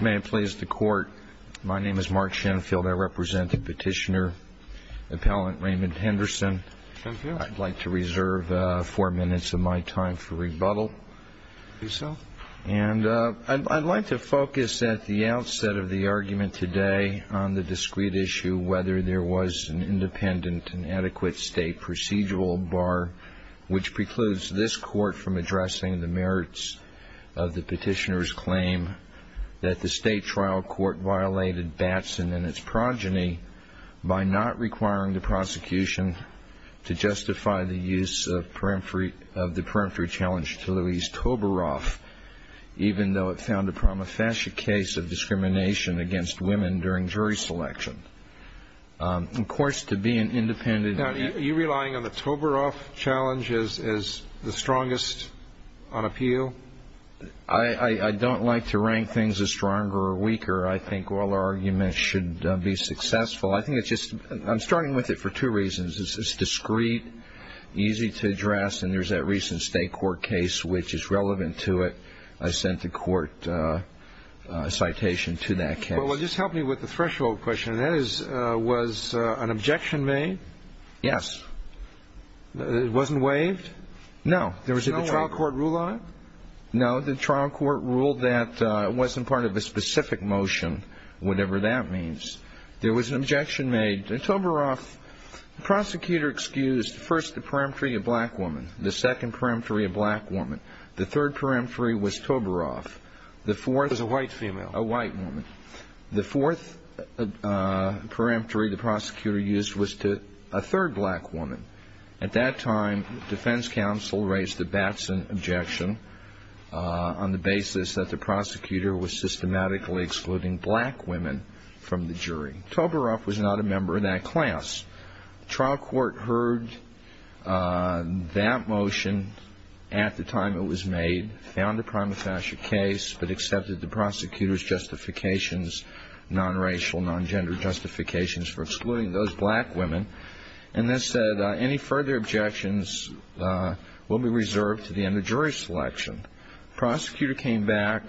May it please the Court. My name is Mark Shenfield. I represent the petitioner, Appellant Raymond Henderson. I'd like to reserve four minutes of my time for rebuttal. And I'd like to focus at the outset of the argument today on the discrete issue whether there was an independent and adequate State procedural bar which precludes this Court from addressing the merits of the petitioner's claim that the State trial court violated Batson and its progeny by not requiring the prosecution to justify the use of the peremptory challenge to Louise Toberoff, even though it found a prima facie case of discrimination against women during jury selection. Of course, to be an independent... Now, are you relying on the Toberoff challenge as the strongest on appeal? I don't like to rank things as stronger or weaker. I think all arguments should be successful. I think it's just... I'm starting with it for two reasons. It's discrete, easy to address, and there's that recent State court case which is relevant to it. I sent a court citation to that case. Well, just help me with the threshold question. That is, was an objection made? Yes. It wasn't waived? No. There was a trial court rule on it? No. The trial court ruled that it wasn't part of a specific motion, whatever that means. There was an objection made. Toberoff, the prosecutor excused first the peremptory of black woman, the second peremptory of black woman, the third peremptory was Toberoff, the fourth... It was a white female. A white woman. The fourth peremptory the prosecutor used was to a third black woman. At that time, defense counsel raised a Batson objection on the basis that the prosecutor was systematically excluding black women from the jury. Toberoff was not a member of that class. The trial court heard that motion at the time it was made, found a prima facie case, but accepted the prosecutor's justifications, non-racial, non-gender justifications for excluding those black women, and then said any further objections will be reserved to the end of jury selection. Prosecutor came back,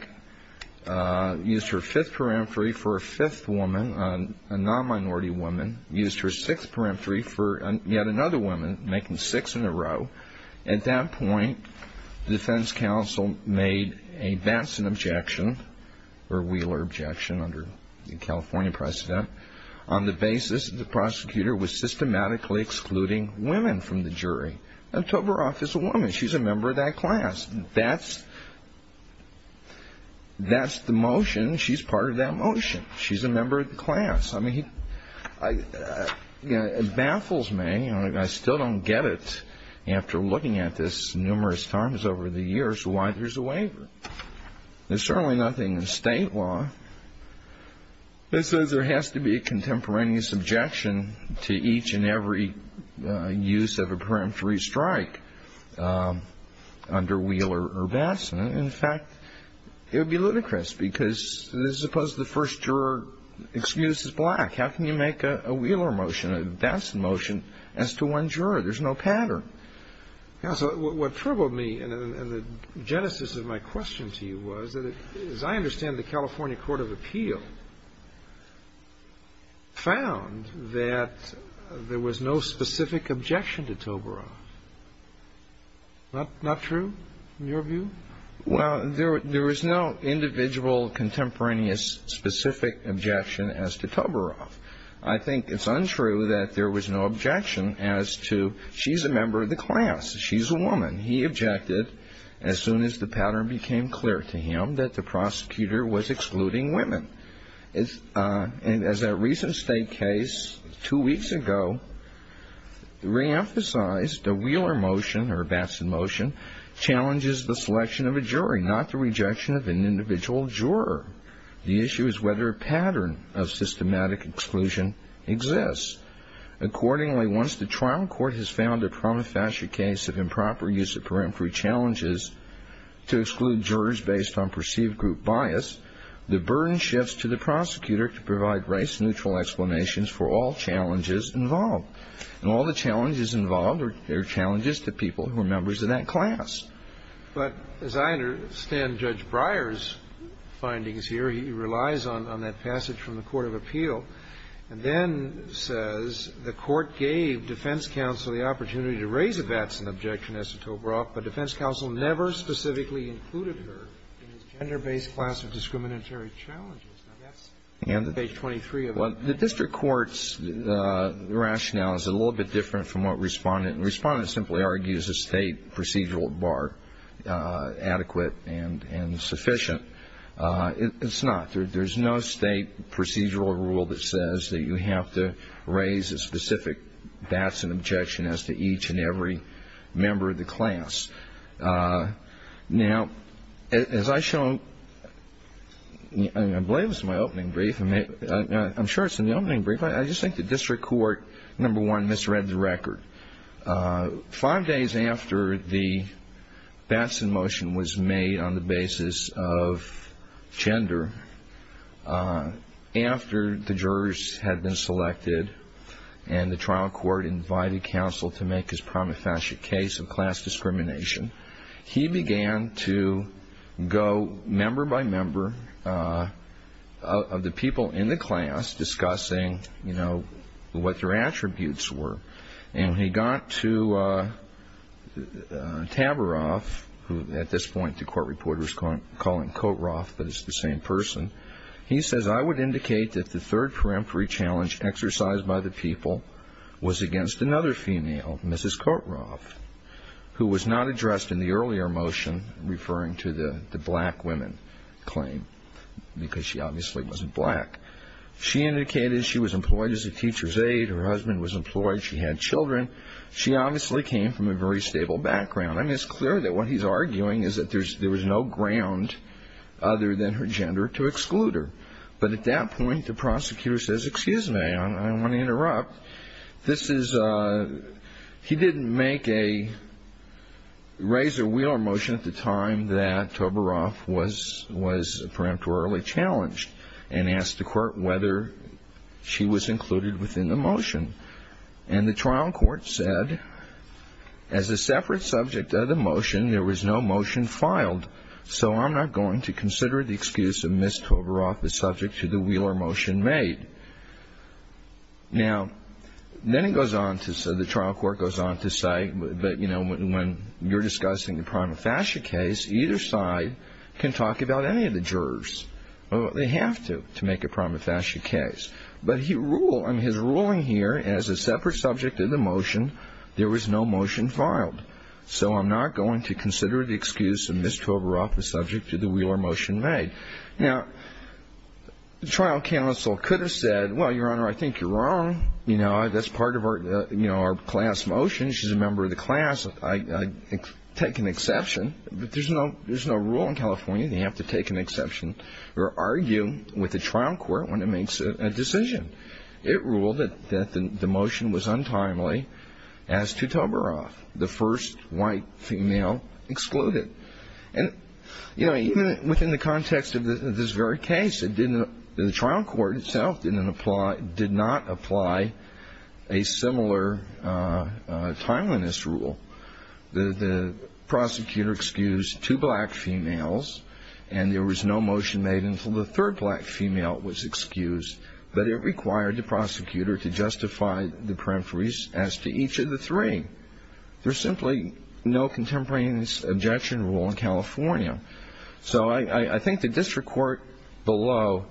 used her fifth peremptory for a fifth woman, a non-minority woman, used her sixth peremptory for yet another woman, making six in a row. At that point, defense counsel made a Batson objection, or Wheeler objection under the California precedent, on the basis that the prosecutor was systematically excluding women from the jury. And Toberoff is a woman. She's a member of that class. That's the motion. She's part of that motion. She's a member of the class. I mean, it baffles me, and I still don't get it, after looking at this numerous times over the years, why there's a waiver. There's certainly nothing in state law that says there has to be a contemporaneous objection to each and every use of a peremptory strike under Wheeler or Batson. In fact, it would be ludicrous, because suppose the first juror excuses black. How can you make a Wheeler motion, a Batson motion, as to one juror? There's no pattern. So what troubled me in the genesis of my question to you was that, as I understand it, the California court of appeal found that there was no specific objection to Toberoff. Not true, in your view? Well, there is no individual contemporaneous specific objection as to Toberoff. I think it's untrue that there was no objection as to she's a member of the class, she's a woman. He objected as soon as the pattern became clear to him that the prosecutor was excluding women. And as a recent state case, two weeks ago, reemphasized a Wheeler motion or a Batson motion challenges the selection of a jury, not the rejection of an individual juror. The issue is whether a pattern of systematic exclusion exists. Accordingly, once the trial court has found a prima facie case of improper use of peremptory challenges to exclude jurors based on perceived group bias, the burden shifts to the prosecutor to provide race-neutral explanations for all challenges involved. And all the challenges involved are challenges to people who are members of that class. But as I understand Judge Breyer's findings here, he relies on that passage from the court of appeal, and then says the court gave defense counsel the opportunity to raise a Batson objection as to Toberoff, but defense counsel never specifically included her in his gender-based class of discriminatory challenges. Page 23 of it. Well, the district court's rationale is a little bit different from what Respondent simply argues a state procedural bar adequate and sufficient. It's not. There's no state procedural rule that says that you have to raise a specific Batson objection as to each and every member of the class. Now, as I show, I believe this is my opening brief. I'm sure it's in the opening brief. I just think the district court, number one, misread the record. Five days after the Batson motion was made on the basis of gender, after the jurors had been selected and the trial court invited counsel to make his prima facie case of class discrimination, he began to go member by member of the people in the class discussing, you know, what their attributes were. And when he got to Toberoff, who at this point the court reporter is calling Kotroff, but it's the same person, he says, I would indicate that the third peremptory challenge exercised by the people was against another female, Mrs. Kotroff, who was not addressed in the earlier motion referring to the black women claim because she obviously wasn't black. She indicated she was employed as a teacher's aide. Her husband was employed. She had children. She obviously came from a very stable background. I mean, it's clear that what he's arguing is that there was no ground other than her gender to exclude her. But at that point, the prosecutor says, excuse me, I don't want to interrupt. He didn't make a razor wheel or motion at the time that Toberoff was peremptorily challenged and asked the court whether she was included within the motion. And the trial court said, as a separate subject of the motion, there was no motion filed, so I'm not going to consider the excuse of Ms. Toberoff as subject to the wheel or motion made. Now, then it goes on to say, the trial court goes on to say, but, you know, when you're discussing the prima facie case, either side can talk about any of the jurors. They have to, to make a prima facie case. But his ruling here, as a separate subject of the motion, there was no motion filed, so I'm not going to consider the excuse of Ms. Toberoff as subject to the wheel or motion made. Now, the trial counsel could have said, well, Your Honor, I think you're wrong. You know, that's part of our class motion. She's a member of the class. I take an exception, but there's no rule in California that you have to take an exception or argue with the trial court when it makes a decision. It ruled that the motion was untimely as to Toberoff, the first white female excluded. And, you know, even within the context of this very case, the trial court itself didn't apply, did not apply a similar timeliness rule. The prosecutor excused two black females, and there was no motion made until the third black female was excused, but it required the prosecutor to justify the peremptories as to each of the three. There's simply no contemporaneous objection rule in California. So I think the district court below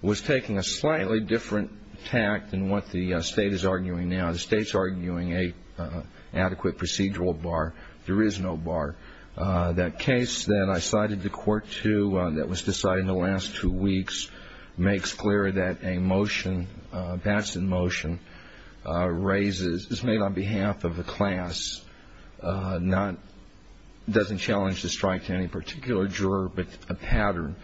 was taking a slightly different tact than what the State is arguing now. The State's arguing an adequate procedural bar. There is no bar. That case that I cited the court to that was decided in the last two weeks makes clear that a motion, that's in motion, is made on behalf of the class, doesn't challenge the strike to any particular juror, but a pattern.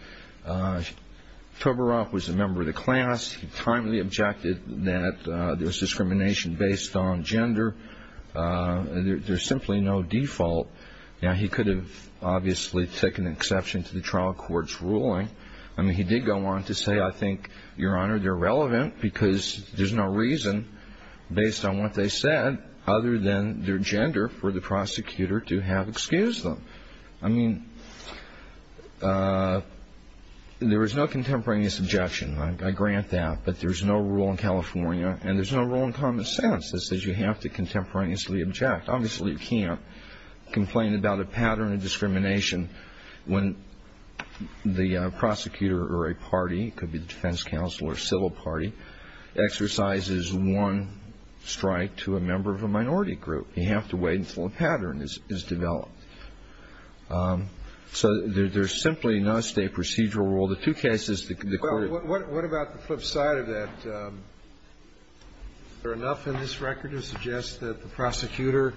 Toberoff was a member of the class. He timely objected that there was discrimination based on gender. There's simply no default. Now, he could have obviously taken an exception to the trial court's ruling. I mean, he did go on to say, I think, Your Honor, they're relevant because there's no reason based on what they said other than their gender for the prosecutor to have excused them. I mean, there was no contemporaneous objection. I grant that. But there's no rule in California, and there's no rule in common sense that says you have to contemporaneously object. Obviously, you can't complain about a pattern of discrimination when the prosecutor or a party, it could be the defense counsel or a civil party, exercises one strike to a member of a minority group. You have to wait until a pattern is developed. So there's simply no State procedural rule. The two cases that the court has argued. I don't think there's anything in this record to suggest that the prosecutor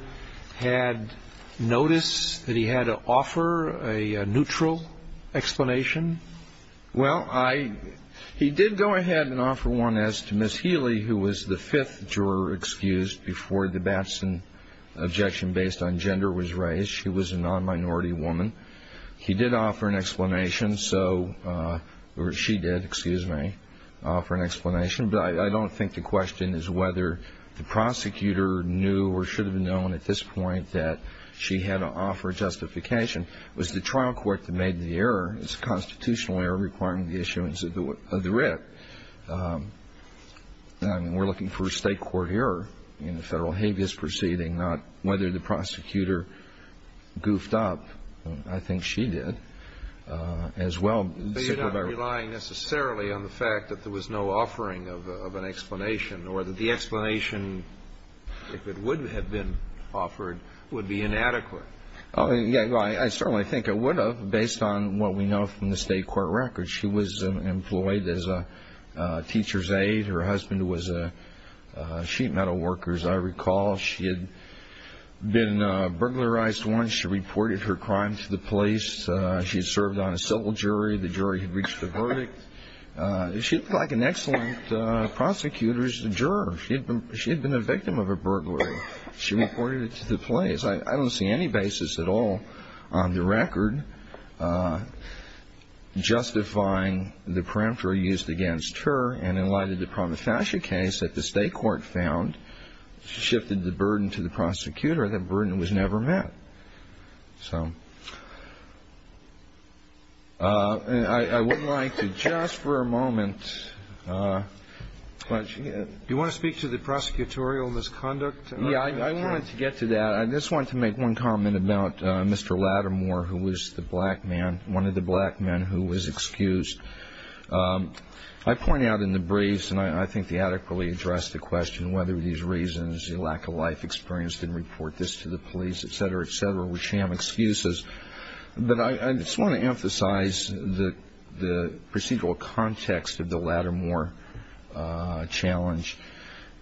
had noticed that he had to offer a neutral explanation. Well, he did go ahead and offer one as to Ms. Healy, who was the fifth juror excused before the Batson objection based on gender was raised. She was a non-minority woman. He did offer an explanation. So, or she did, excuse me, offer an explanation. But I don't think the question is whether the prosecutor knew or should have known at this point that she had to offer justification. It was the trial court that made the error. It's a constitutional error requiring the issuance of the writ. I mean, we're looking for a State court error in the Federal habeas proceeding, not whether the prosecutor goofed up. I think she did as well. But you're not relying necessarily on the fact that there was no offering of an explanation or that the explanation, if it would have been offered, would be inadequate. Oh, yeah. I certainly think it would have based on what we know from the State court record. She was employed as a teacher's aide. Her husband was a sheet metal worker, as I recall. She had been burglarized once. She reported her crime to the police. She had served on a civil jury. The jury had reached a verdict. She looked like an excellent prosecutor's juror. She had been a victim of a burglary. She reported it to the police. I don't see any basis at all on the record justifying the peremptory used against her. And in light of the Promethasia case that the State court found, she shifted the burden to the prosecutor. That burden was never met. So I would like to just for a moment, do you want to speak to the prosecutorial misconduct? Yeah. I wanted to get to that. I just wanted to make one comment about Mr. Lattimore, who was the black man, one of the black men who was excused. I point out in the briefs, and I think they adequately address the question whether these reasons, the lack of life experience, didn't report this to the police, et cetera, et cetera, were sham excuses. But I just want to emphasize the procedural context of the Lattimore challenge.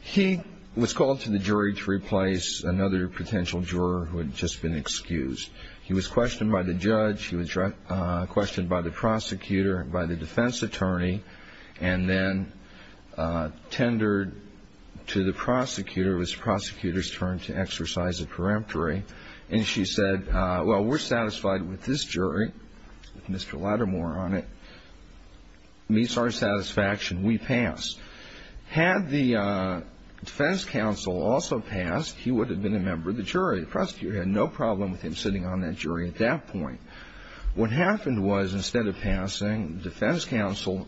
He was called to the jury to replace another potential juror who had just been excused. He was questioned by the judge. She was questioned by the prosecutor, by the defense attorney, and then tendered to the prosecutor. It was the prosecutor's turn to exercise a peremptory. And she said, well, we're satisfied with this jury, Mr. Lattimore on it, meets our satisfaction. We pass. Had the defense counsel also passed, he would have been a member of the jury. The prosecutor had no problem with him sitting on that jury at that point. What happened was instead of passing, the defense counsel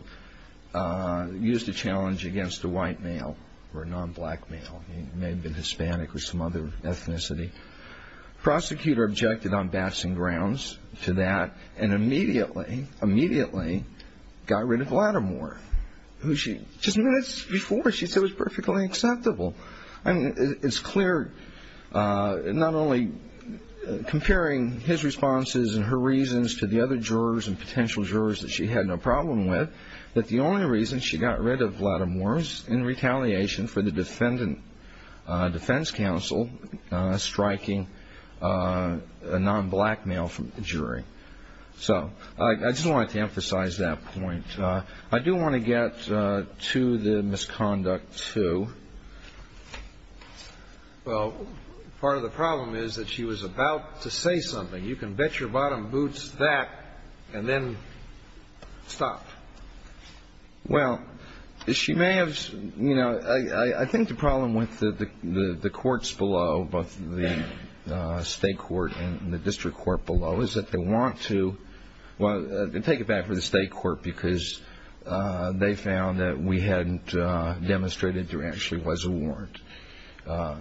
used a challenge against a white male or a non-black male. He may have been Hispanic or some other ethnicity. The prosecutor objected on bashing grounds to that and immediately, immediately got rid of Lattimore, who just minutes before she said was perfectly acceptable. It's clear not only comparing his responses and her reasons to the other jurors and potential jurors that she had no problem with, but the only reason she got rid of Lattimore was in retaliation for the defendant defense counsel striking a non-black male from the jury. So I just wanted to emphasize that point. I do want to get to the misconduct, too. Well, part of the problem is that she was about to say something. You can bet your bottom boots that and then stop. Well, she may have, you know, I think the problem with the courts below, both the state court and the district court below, is that they want to take it back to the state court because they found that we hadn't demonstrated there actually was a warrant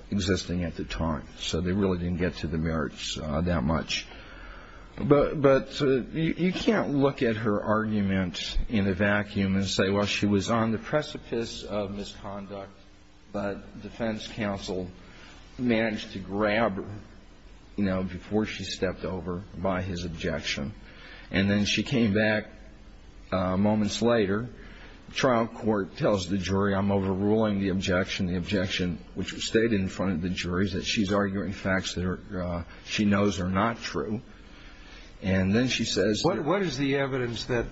existing at the time. So they really didn't get to the merits that much. But you can't look at her argument in a vacuum and say, well, she was on the precipice of misconduct, but defense counsel managed to grab her, you know, before she stepped over by his objection. And then she came back moments later. Trial court tells the jury, I'm overruling the objection. The objection, which was stated in front of the jury, is that she's arguing facts that she knows are not true. And then she says. What is the evidence that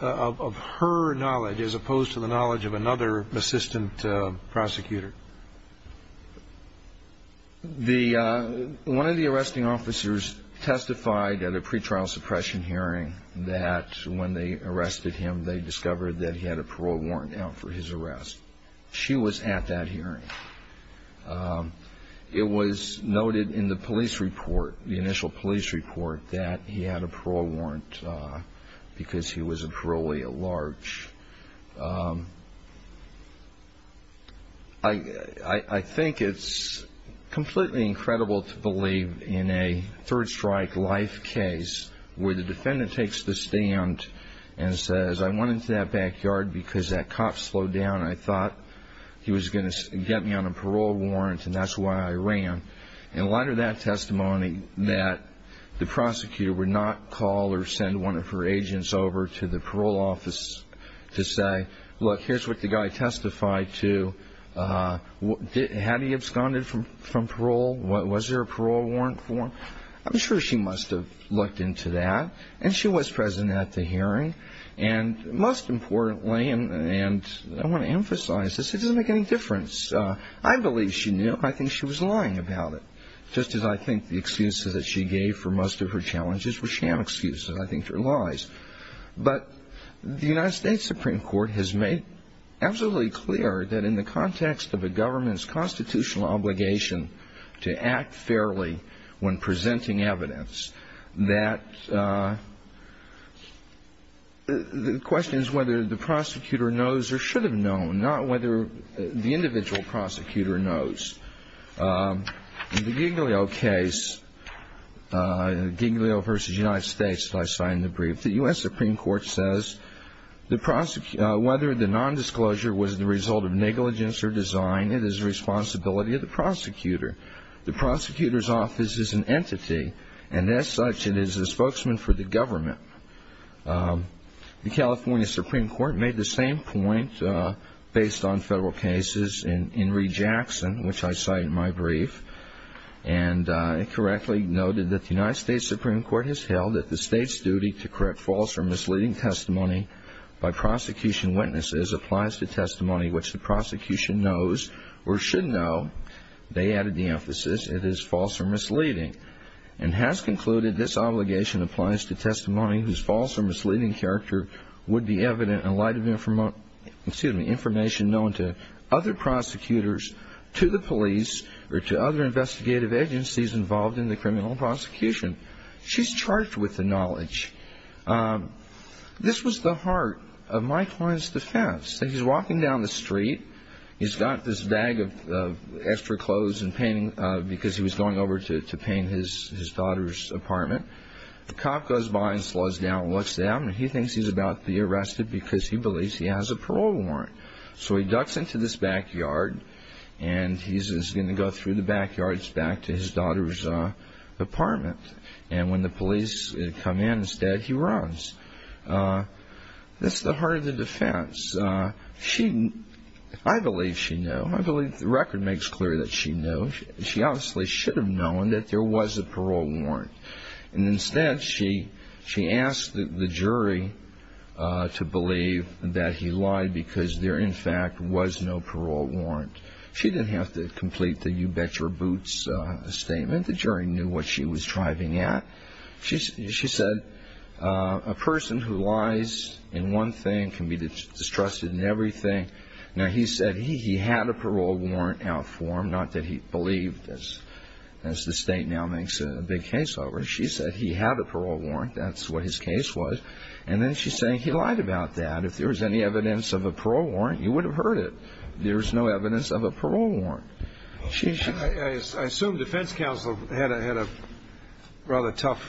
of her knowledge as opposed to the knowledge of another assistant prosecutor? The one of the arresting officers testified at a pretrial suppression hearing that when they arrested him, they discovered that he had a parole warrant out for his arrest. She was at that hearing. It was noted in the police report, the initial police report, that he had a parole warrant because he was a parolee at large. I think it's completely incredible to believe in a third strike life case where the defendant takes the stand and says, I went into that backyard because that cop slowed down. I thought he was going to get me on a parole warrant, and that's why I ran. And a lot of that testimony that the prosecutor would not call or send one of her agents over to the parole office to say, look, here's what the guy testified to. Had he absconded from parole? Was there a parole warrant for him? I'm sure she must have looked into that, and she was present at the hearing. And most importantly, and I want to emphasize this, it doesn't make any difference. I believe she knew. I think she was lying about it, just as I think the excuses that she gave for most of her challenges were sham excuses. I think they're lies. But the United States Supreme Court has made absolutely clear that in the context of a government's constitutional obligation to act fairly when presenting evidence, that the question is whether the prosecutor knows or should have known, not whether the individual prosecutor knows. In the Giglio case, Giglio v. United States, that I cited in the brief, the U.S. Supreme Court says whether the nondisclosure was the result of negligence or design, it is the responsibility of the prosecutor. The prosecutor's office is an entity, and as such, it is a spokesman for the government. The California Supreme Court made the same point based on federal cases in Reed-Jackson, which I cite in my brief, and it correctly noted that the United States Supreme Court has held that the state's duty to correct false or misleading testimony by prosecution witnesses applies to testimony which the prosecution knows or should know. They added the emphasis, it is false or misleading. And has concluded this obligation applies to testimony whose false or misleading character would be evident in light of information known to other prosecutors, to the police, or to other investigative agencies involved in the criminal prosecution. She's charged with the knowledge. This was the heart of my client's defense. He's walking down the street. He's got this bag of extra clothes and painting because he was going over to paint his daughter's apartment. The cop goes by and slows down and looks at him, and he thinks he's about to be arrested because he believes he has a parole warrant. So he ducks into this backyard, and he's going to go through the backyards back to his daughter's apartment. And when the police come in instead, he runs. That's the heart of the defense. I believe she knew. I believe the record makes clear that she knew. She obviously should have known that there was a parole warrant. And instead, she asked the jury to believe that he lied because there, in fact, was no parole warrant. She didn't have to complete the you bet your boots statement. The jury knew what she was driving at. She said a person who lies in one thing can be distrusted in everything. Now, he said he had a parole warrant out for him, not that he believed, as the state now makes a big case over it. She said he had a parole warrant. That's what his case was. And then she's saying he lied about that. If there was any evidence of a parole warrant, you would have heard it. There was no evidence of a parole warrant. I assume defense counsel had a rather tough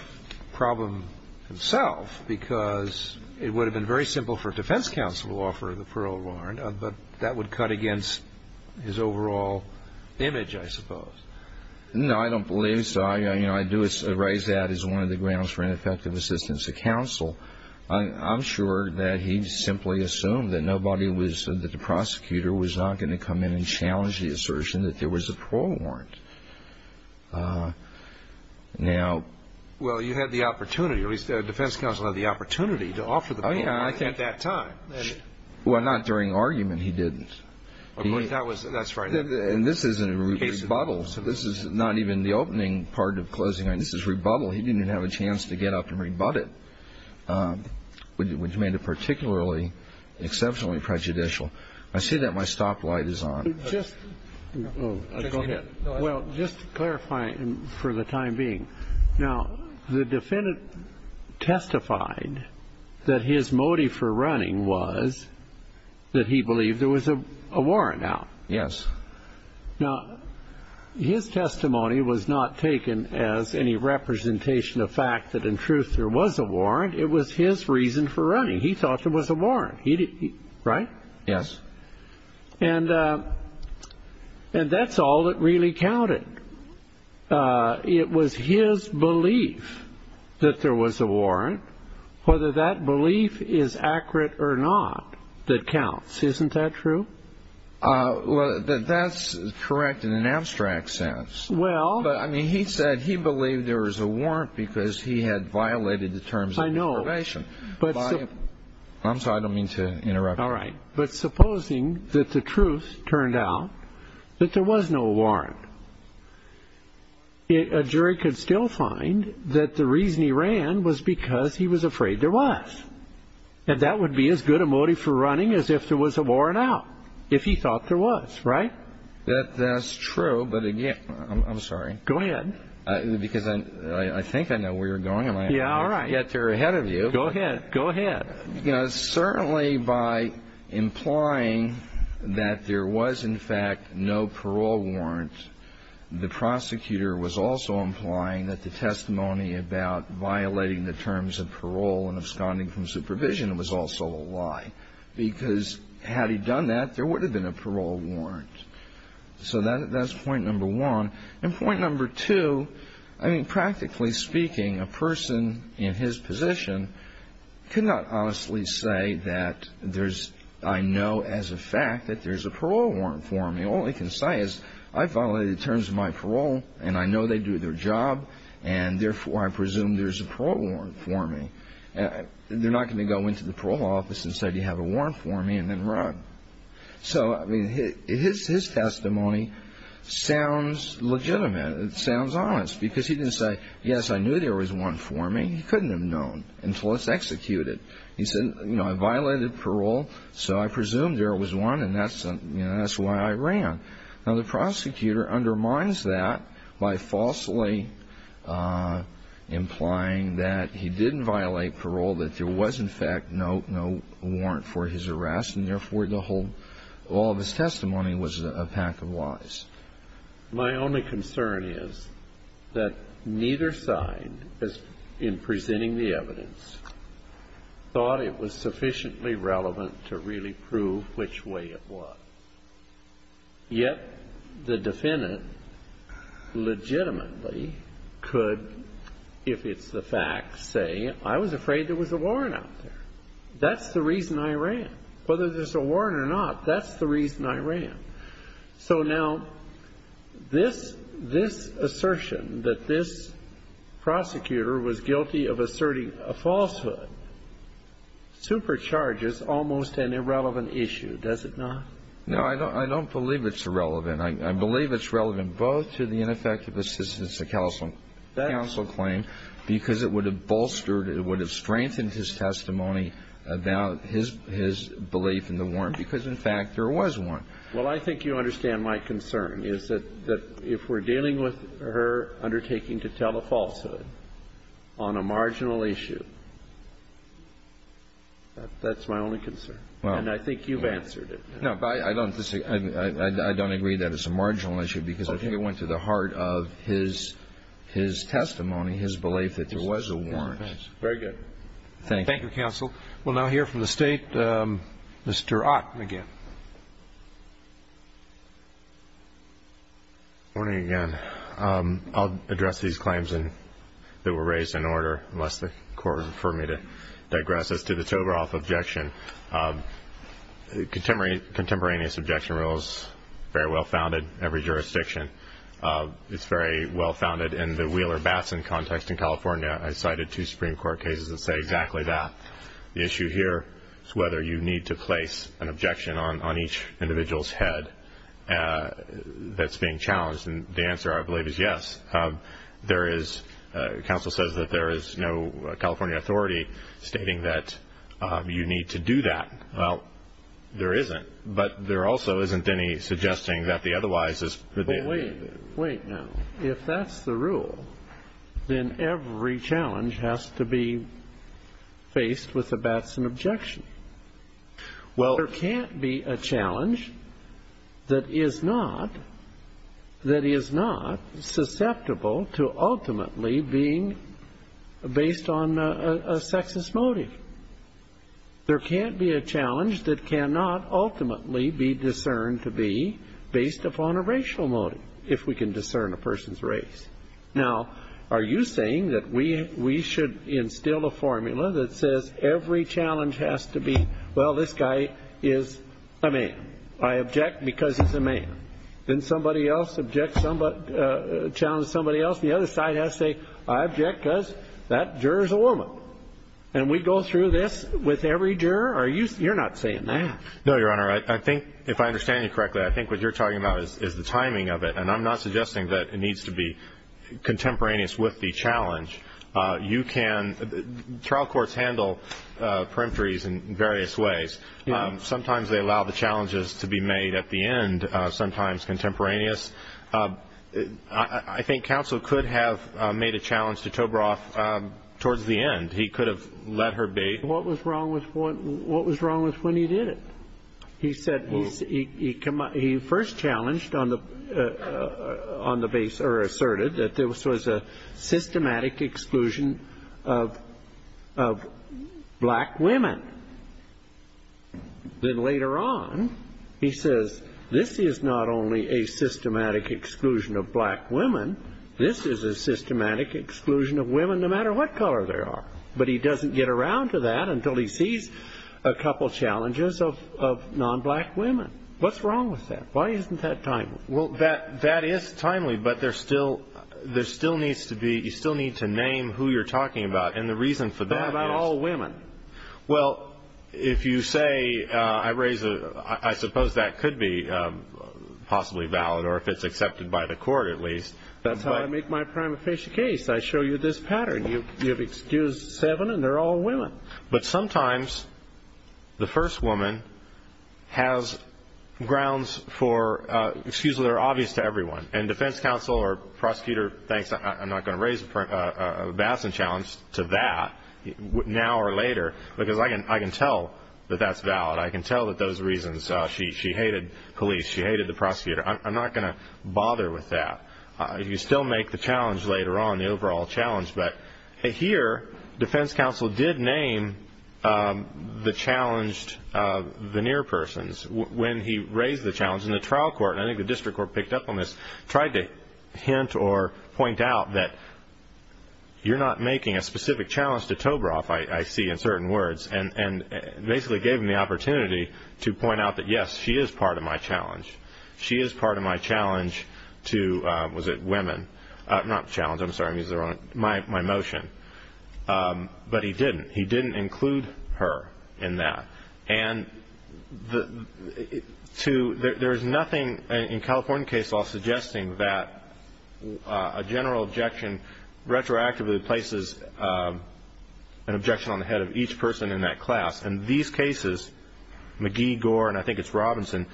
problem himself because it would have been very simple for defense counsel to offer the parole warrant, but that would cut against his overall image, I suppose. No, I don't believe so. I do raise that as one of the grounds for ineffective assistance to counsel. I'm sure that he simply assumed that the prosecutor was not going to come in and challenge the assertion that there was a parole warrant. Well, you had the opportunity. At least the defense counsel had the opportunity to offer the parole warrant at that time. Well, not during argument. He didn't. That's right. And this is a rebuttal. This is not even the opening part of closing arguments. This is rebuttal. He didn't have a chance to get up and rebut it, which made it particularly exceptionally prejudicial. I see that my stoplight is on. Go ahead. Well, just to clarify for the time being. Now, the defendant testified that his motive for running was that he believed there was a warrant out. Yes. Now, his testimony was not taken as any representation of fact that, in truth, there was a warrant. It was his reason for running. He thought there was a warrant. Right? Yes. And that's all that really counted. It was his belief that there was a warrant, whether that belief is accurate or not, that counts. Isn't that true? Well, that's correct in an abstract sense. Well. But, I mean, he said he believed there was a warrant because he had violated the terms of probation. I know. I'm sorry. I don't mean to interrupt you. All right. But supposing that the truth turned out that there was no warrant. A jury could still find that the reason he ran was because he was afraid there was. And that would be as good a motive for running as if there was a warrant out, if he thought there was. Right? That's true. But, again, I'm sorry. Go ahead. Because I think I know where you're going. Yeah, all right. Yet, they're ahead of you. Go ahead. Go ahead. Certainly, by implying that there was, in fact, no parole warrant, the prosecutor was also implying that the testimony about violating the terms of parole and absconding from supervision was also a lie. Because had he done that, there would have been a parole warrant. So that's point number one. And point number two, I mean, practically speaking, a person in his position could not honestly say that there's, I know as a fact that there's a parole warrant for him. All he can say is, I violated the terms of my parole, and I know they do their job, and, therefore, I presume there's a parole warrant for me. They're not going to go into the parole office and say, do you have a warrant for me, and then run. So, I mean, his testimony sounds legitimate. It sounds honest. Because he didn't say, yes, I knew there was one for me. He couldn't have known until it's executed. He said, you know, I violated parole, so I presume there was one. And that's why I ran. Now, the prosecutor undermines that by falsely implying that he didn't violate parole, that there was, in fact, no warrant for his arrest, and, therefore, the whole, all of his testimony was a pack of lies. My only concern is that neither side, in presenting the evidence, thought it was sufficiently relevant to really prove which way it was. Yet the defendant legitimately could, if it's the fact, say, I was afraid there was a warrant out there. That's the reason I ran. Whether there's a warrant or not, that's the reason I ran. So, now, this assertion that this prosecutor was guilty of asserting a falsehood supercharges almost an irrelevant issue, does it not? No, I don't believe it's irrelevant. I believe it's relevant both to the ineffective assistance of counsel claim, because it would have bolstered, it would have strengthened his testimony about his belief in the warrant, because, in fact, there was one. Well, I think you understand my concern, is that if we're dealing with her undertaking to tell a falsehood on a marginal issue, that's my only concern. And I think you've answered it. No, but I don't disagree. I don't agree that it's a marginal issue, because I think it went to the heart of his testimony, his belief that there was a warrant. Very good. Thank you. Thank you, counsel. We'll now hear from the State. Mr. Ott, again. Good morning again. I'll address these claims that were raised in order, unless the Court would prefer me to digress as to the Tovaroff objection. Contemporaneous objection rule is very well-founded in every jurisdiction. It's very well-founded in the Wheeler-Bassin context in California. I cited two Supreme Court cases that say exactly that. The issue here is whether you need to place an objection on each individual's head that's being challenged. And the answer, I believe, is yes. There is, counsel says, that there is no California authority stating that you need to do that. Well, there isn't. But there also isn't any suggesting that the otherwise is. Well, wait a minute. Wait now. If that's the rule, then every challenge has to be faced with a Batson objection. Well, there can't be a challenge that is not susceptible to ultimately being based on a sexist motive. There can't be a challenge that cannot ultimately be discerned to be based upon a racial motive, if we can discern a person's race. Now, are you saying that we should instill a formula that says every challenge has to be, well, this guy is a man. I object because he's a man. Then somebody else challenges somebody else. The other side has to say, I object because that juror's a woman. And we go through this with every juror? You're not saying that. No, Your Honor. I think, if I understand you correctly, I think what you're talking about is the timing of it. And I'm not suggesting that it needs to be contemporaneous with the challenge. You can ‑‑ trial courts handle perimetries in various ways. Sometimes they allow the challenges to be made at the end, sometimes contemporaneous. I think counsel could have made a challenge to Toberoff towards the end. He could have let her be. What was wrong with when he did it? He said he first challenged on the base, or asserted, that this was a systematic exclusion of black women. Then later on, he says, this is not only a systematic exclusion of black women, this is a systematic exclusion of women no matter what color they are. But he doesn't get around to that until he sees a couple challenges of non‑black women. What's wrong with that? Why isn't that timely? Well, that is timely, but there still needs to be ‑‑ you still need to name who you're talking about. And the reason for that is ‑‑ What about all women? Well, if you say, I raise a ‑‑ I suppose that could be possibly valid, or if it's accepted by the court at least. That's how I make my prima facie case. I show you this pattern. You have excused seven, and they're all women. But sometimes the first woman has grounds for ‑‑ excuses that are obvious to everyone. And defense counsel or prosecutor thinks, I'm not going to raise a Batson challenge to that now or later, because I can tell that that's valid. I can tell that those reasons ‑‑ she hated police. She hated the prosecutor. I'm not going to bother with that. You still make the challenge later on, the overall challenge. But here, defense counsel did name the challenged veneer persons when he raised the challenge in the trial court. I think the district court picked up on this, tried to hint or point out that you're not making a specific challenge to Toberoff, I see, in certain words, and basically gave him the opportunity to point out that, yes, she is part of my challenge. She is part of my challenge to ‑‑ was it women? Not challenge. I'm sorry. My motion. But he didn't. He didn't include her in that. And there is nothing in California case law suggesting that a general objection retroactively places an objection on the head of each person in that class. And these cases, McGee, Gore, and I think it's Robinson,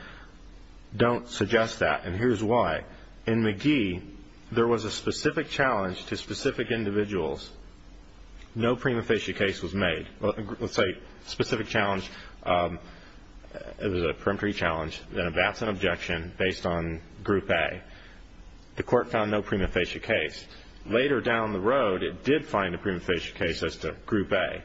don't suggest that. And here's why. In McGee, there was a specific challenge to specific individuals. No prima facie case was made. Let's say specific challenge, it was a peremptory challenge, and that's an objection based on group A. The court found no prima facie case. Later down the road, it did find a prima facie case as to group A.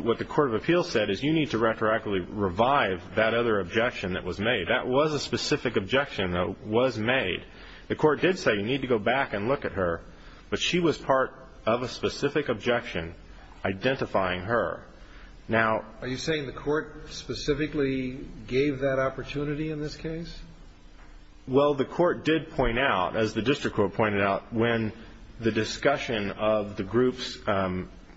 What the court of appeals said is you need to retroactively revive that other objection that was made. That was a specific objection that was made. The court did say you need to go back and look at her, but she was part of a specific objection identifying her. Now, are you saying the court specifically gave that opportunity in this case? Well, the court did point out, as the district court pointed out, when the discussion of the groups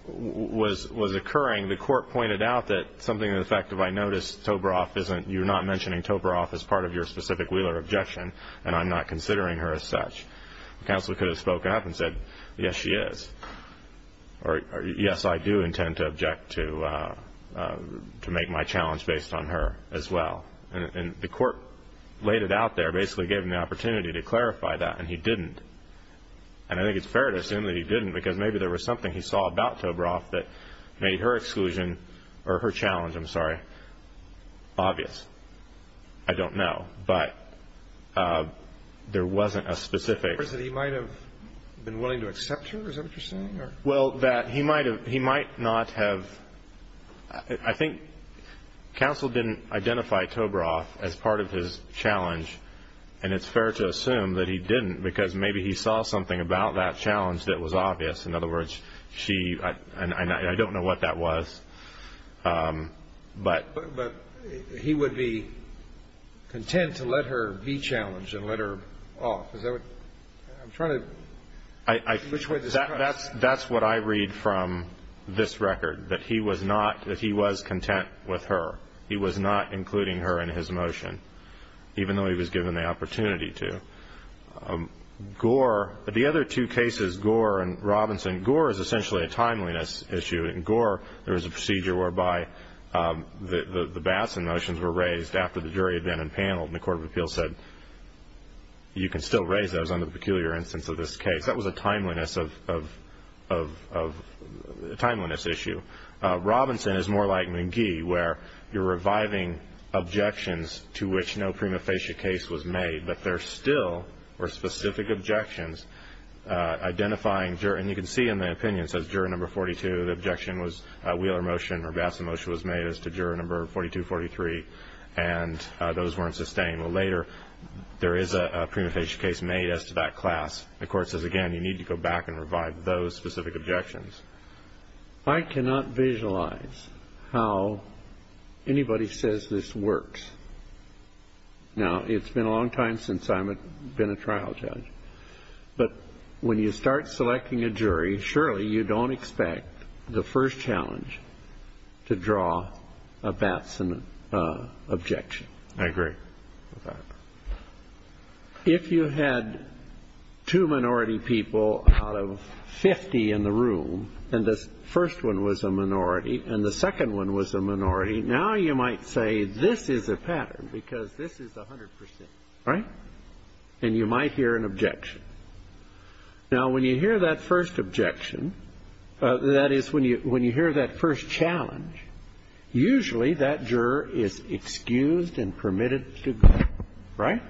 was occurring, the court pointed out that something to the effect of I noticed Toberoff isn't, you're not mentioning Toberoff as part of your specific Wheeler objection, and I'm not considering her as such. The counselor could have spoken up and said, yes, she is. Or, yes, I do intend to object to make my challenge based on her as well. And the court laid it out there, basically gave him the opportunity to clarify that, and he didn't. And I think it's fair to assume that he didn't because maybe there was something he saw about Toberoff that made her exclusion, or her challenge, I'm sorry, obvious. I don't know. But there wasn't a specific. He might have been willing to accept her, is that what you're saying? Well, he might not have. I think counsel didn't identify Toberoff as part of his challenge, and it's fair to assume that he didn't because maybe he saw something about that challenge that was obvious. In other words, she, and I don't know what that was. But he would be content to let her be challenged and let her off. I'm trying to. That's what I read from this record, that he was not, that he was content with her. He was not including her in his motion, even though he was given the opportunity to. Gore, the other two cases, Gore and Robinson, Gore is essentially a timeliness issue. In Gore, there was a procedure whereby the Batson motions were raised after the jury had been impaneled, and the Court of Appeals said, you can still raise those under the peculiar instance of this case. That was a timeliness issue. Robinson is more like McGee, where you're reviving objections to which no prima facie case was made, but there still were specific objections identifying, and you can see in the opinion, it says juror number 42, the objection was a Wheeler motion or Batson motion was made as to juror number 42, 43, and those weren't sustained. Well, later, there is a prima facie case made as to that class. The Court says, again, you need to go back and revive those specific objections. I cannot visualize how anybody says this works. Now, it's been a long time since I've been a trial judge. But when you start selecting a jury, surely you don't expect the first challenge to draw a Batson objection. I agree with that. If you had two minority people out of 50 in the room, and the first one was a minority and the second one was a minority, now you might say this is a pattern because this is 100%, right? And you might hear an objection. Now, when you hear that first objection, that is, when you hear that first challenge, usually that juror is excused and permitted to go, right?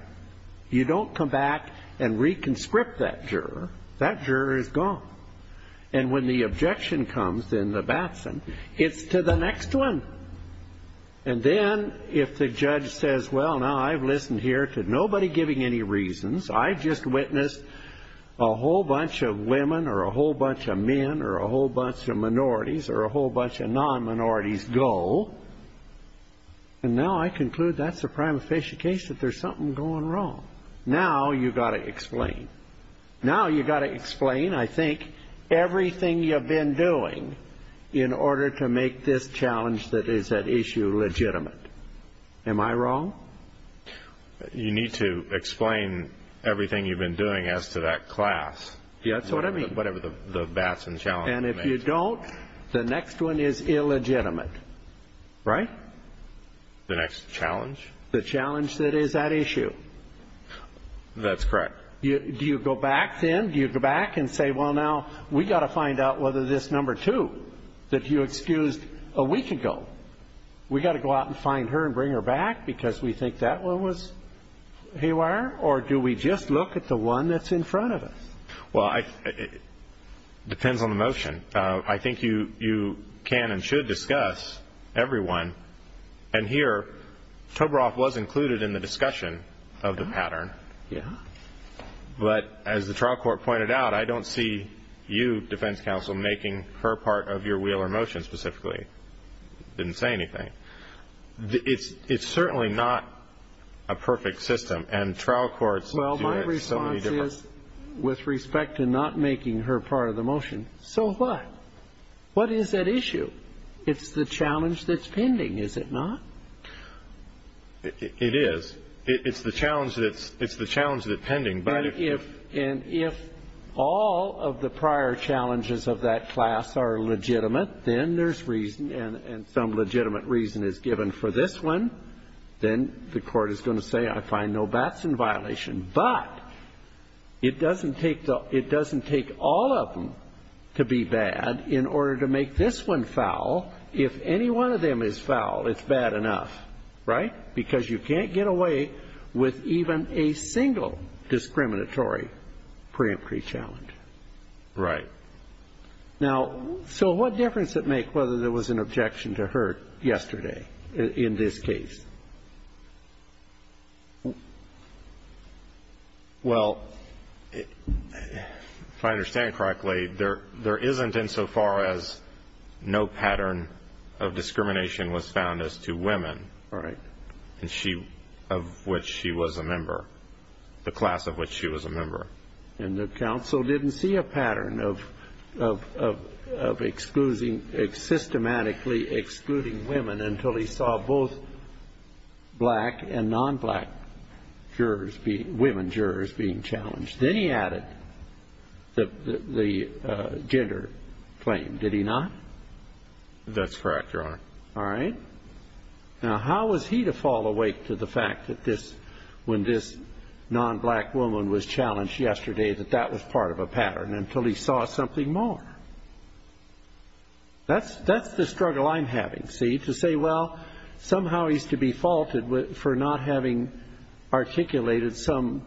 You don't come back and reconscript that juror. That juror is gone. And when the objection comes in the Batson, it's to the next one. And then if the judge says, well, now I've listened here to nobody giving any reasons. I've just witnessed a whole bunch of women or a whole bunch of men or a whole bunch of minorities or a whole bunch of non-minorities go. And now I conclude that's a prima facie case that there's something going wrong. Now you've got to explain. Now you've got to explain, I think, everything you've been doing in order to make this challenge that is at issue legitimate. Am I wrong? You need to explain everything you've been doing as to that class. Yeah, that's what I mean. Whatever the Batson challenge may be. And if you don't, the next one is illegitimate, right? The next challenge? The challenge that is at issue. That's correct. Do you go back then? Do you go back and say, well, now we've got to find out whether this number two that you excused a week ago, we've got to go out and find her and bring her back because we think that one was Haywire or do we just look at the one that's in front of us? Well, it depends on the motion. I think you can and should discuss everyone. And here, Toberoff was included in the discussion of the pattern. Yeah. But as the trial court pointed out, I don't see you, defense counsel, making her part of your Wheeler motion specifically. Didn't say anything. It's certainly not a perfect system and trial courts do it so many different. Well, my response is, with respect to not making her part of the motion, so what? What is at issue? It's the challenge that's pending, is it not? It is. It's the challenge that's pending. And if all of the prior challenges of that class are legitimate, then there's reason and some legitimate reason is given for this one, then the court is going to say I find no bats in violation. But it doesn't take all of them to be bad in order to make this one foul. If any one of them is foul, it's bad enough. Right? Because you can't get away with even a single discriminatory preemptory challenge. Right. Now, so what difference does it make whether there was an objection to her yesterday in this case? Well, if I understand correctly, there isn't insofar as no pattern of discrimination was found as to women. Right. Of which she was a member, the class of which she was a member. And the counsel didn't see a pattern of excluding, systematically excluding women until he saw both black and non-black jurors, women jurors being challenged. Then he added the gender claim. Did he not? That's correct, Your Honor. All right. Now, how was he to fall awake to the fact that this, when this non-black woman was challenged yesterday, that that was part of a pattern until he saw something more? That's the struggle I'm having, see, to say, well, somehow he's to be faulted for not having articulated some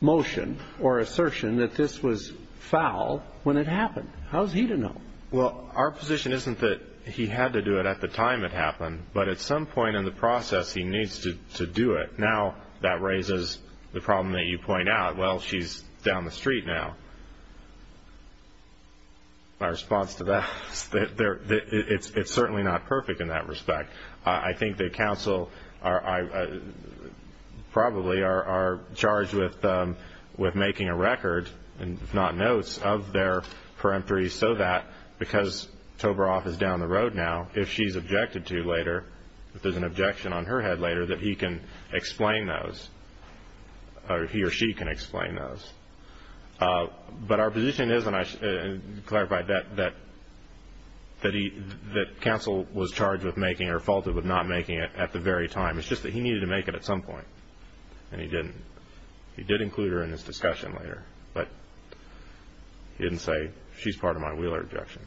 motion or assertion that this was foul when it happened. How is he to know? Well, our position isn't that he had to do it at the time it happened, but at some point in the process he needs to do it. Now that raises the problem that you point out. Well, she's down the street now. My response to that is that it's certainly not perfect in that respect. I think the counsel probably are charged with making a record, if not notes, of their peremptory so that because Tovaroff is down the road now, if she's objected to later, if there's an objection on her head later, that he can explain those, or he or she can explain those. But our position is, and I clarified that, that counsel was charged with making or faulted with not making it at the very time. It's just that he needed to make it at some point, and he didn't. He did include her in his discussion later, but he didn't say she's part of my Wheeler objection.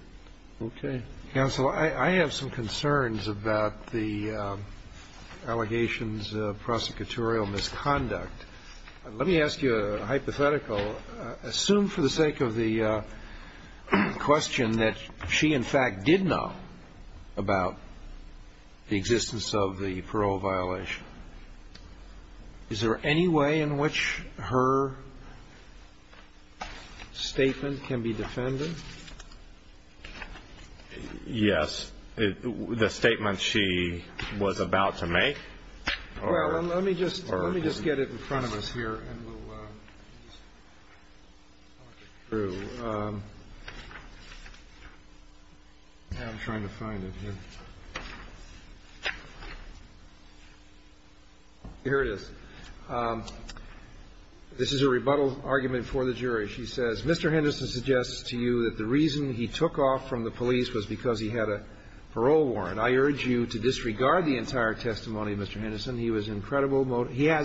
Okay. Counsel, I have some concerns about the allegations of prosecutorial misconduct. Let me ask you a hypothetical. Assume for the sake of the question that she, in fact, did know about the existence of the parole violation. Is there any way in which her statement can be defended? Yes. The statement she was about to make? Well, let me just get it in front of us here, and we'll talk it through. I'm trying to find it here. Here it is. This is a rebuttal argument for the jury. She says Mr. Henderson suggests to you that the reason he took off from the police was because he had a parole warrant. I urge you to disregard the entire testimony, Mr. Henderson. He has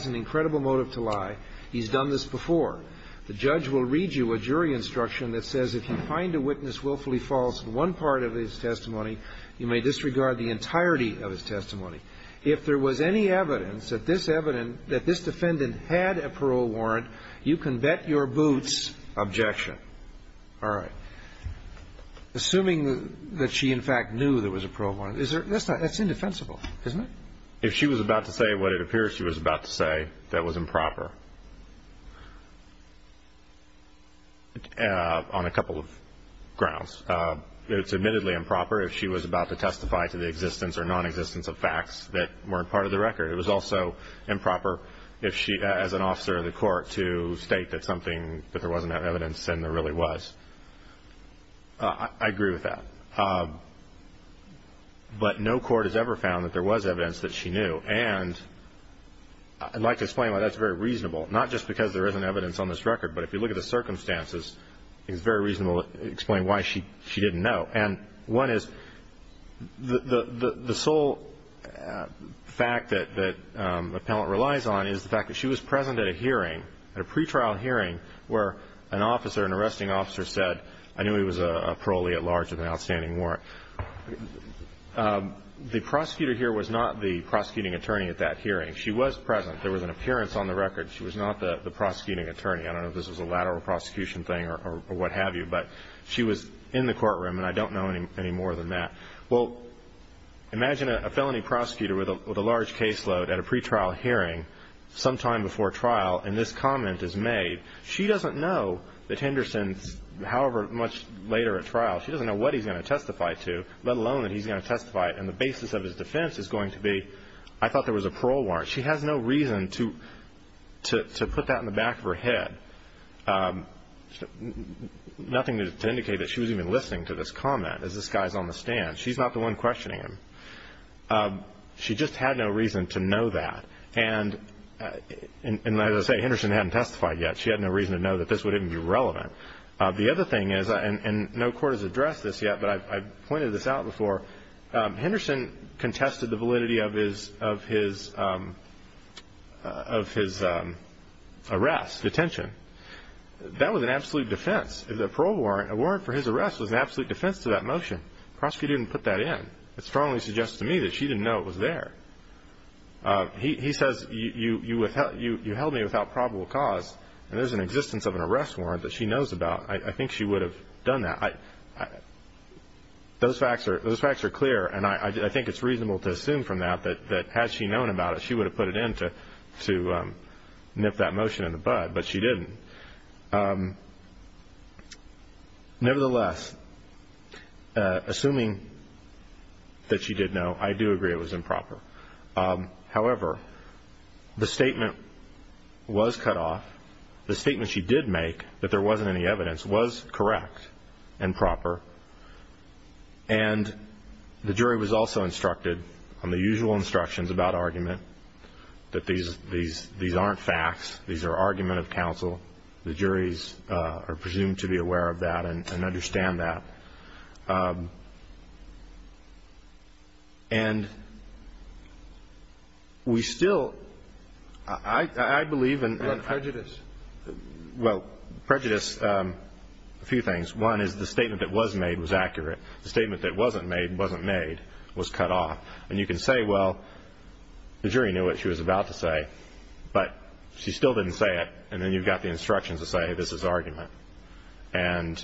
an incredible motive to lie. He's done this before. The judge will read you a jury instruction that says if you find a witness willfully false in one part of his testimony, you may disregard the entirety of his testimony. If there was any evidence that this defendant had a parole warrant, you can bet your objection. All right. Assuming that she, in fact, knew there was a parole warrant, that's indefensible, isn't it? If she was about to say what it appears she was about to say, that was improper on a couple of grounds. It's admittedly improper if she was about to testify to the existence or nonexistence of facts that weren't part of the record. It was also improper as an officer of the court to state that there wasn't that evidence and there really was. I agree with that. But no court has ever found that there was evidence that she knew. And I'd like to explain why that's very reasonable, not just because there isn't evidence on this record, but if you look at the circumstances, it's very reasonable to explain why she didn't know. And one is the sole fact that the appellant relies on is the fact that she was present at a hearing, at a pretrial hearing, where an officer, an arresting officer said, I knew he was a parolee at large with an outstanding warrant. The prosecutor here was not the prosecuting attorney at that hearing. She was present. There was an appearance on the record. She was not the prosecuting attorney. I don't know if this was a lateral prosecution thing or what have you, but she was in the courtroom and I don't know any more than that. Well, imagine a felony prosecutor with a large caseload at a pretrial hearing sometime before trial and this comment is made. She doesn't know that Henderson, however much later at trial, she doesn't know what he's going to testify to, let alone that he's going to testify and the basis of his defense is going to be, I thought there was a parole warrant. She has no reason to put that in the back of her head, nothing to indicate that she was even listening to this comment as this guy is on the stand. She's not the one questioning him. She just had no reason to know that. And as I say, Henderson hadn't testified yet. She had no reason to know that this would even be relevant. The other thing is, and no court has addressed this yet, but I pointed this out before, Henderson contested the validity of his arrest, detention. That was an absolute defense. The parole warrant, a warrant for his arrest was an absolute defense to that motion. The prosecutor didn't put that in. It strongly suggests to me that she didn't know it was there. He says, you held me without probable cause, and there's an existence of an arrest warrant that she knows about. I think she would have done that. Those facts are clear, and I think it's reasonable to assume from that that had she known about it, she would have put it in to nip that motion in the bud, but she didn't. Nevertheless, assuming that she did know, I do agree it was improper. However, the statement was cut off. The statement she did make, that there wasn't any evidence, was correct and proper, and the jury was also instructed, on the usual instructions about argument, that these aren't facts. These are argument of counsel. The juries are presumed to be aware of that and understand that. And we still, I believe in prejudice, a few things. One is the statement that was made was accurate. The statement that wasn't made wasn't made, was cut off. And you can say, well, the jury knew what she was about to say, but she still didn't say it, and then you've got the instructions to say this is argument. And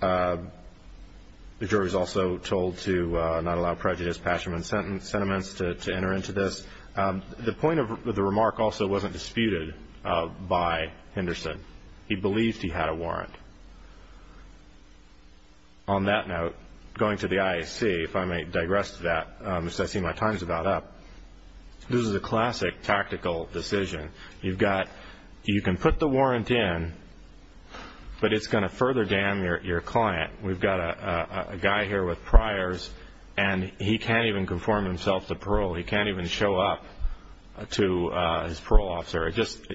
the jury was also told to not allow prejudice, passion, and sentiments to enter into this. The point of the remark also wasn't disputed by Henderson. He believed he had a warrant. On that note, going to the IAC, if I may digress to that, because I see my time is about up. This is a classic tactical decision. You've got, you can put the warrant in, but it's going to further dam your client. We've got a guy here with priors, and he can't even conform himself to parole. He can't even show up to his parole officer. It just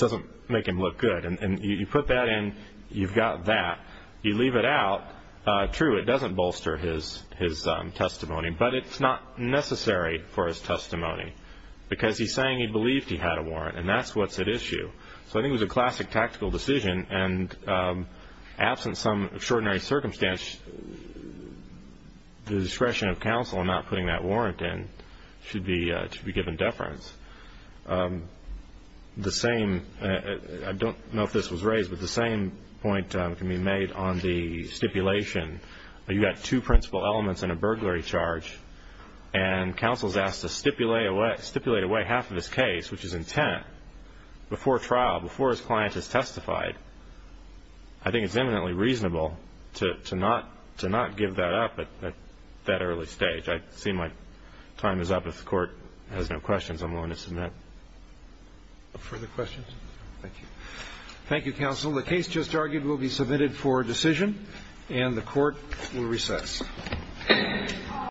doesn't make him look good. And you put that in, you've got that. You leave it out, true, it doesn't bolster his testimony, but it's not necessary for his testimony because he's saying he believed he had a warrant, and that's what's at issue. So I think it was a classic tactical decision, and absent some extraordinary circumstance, the discretion of counsel in not putting that warrant in should be given deference. The same, I don't know if this was raised, but the same point can be made on the stipulation. You've got two principal elements and a burglary charge, and counsel is asked to stipulate away half of his case, which is intent, before trial, before his client has testified. I think it's eminently reasonable to not give that up at that early stage. I see my time is up. If the Court has no questions, I'm willing to submit. Further questions? Thank you. Thank you, counsel. The case just argued will be submitted for decision, and the Court will recess.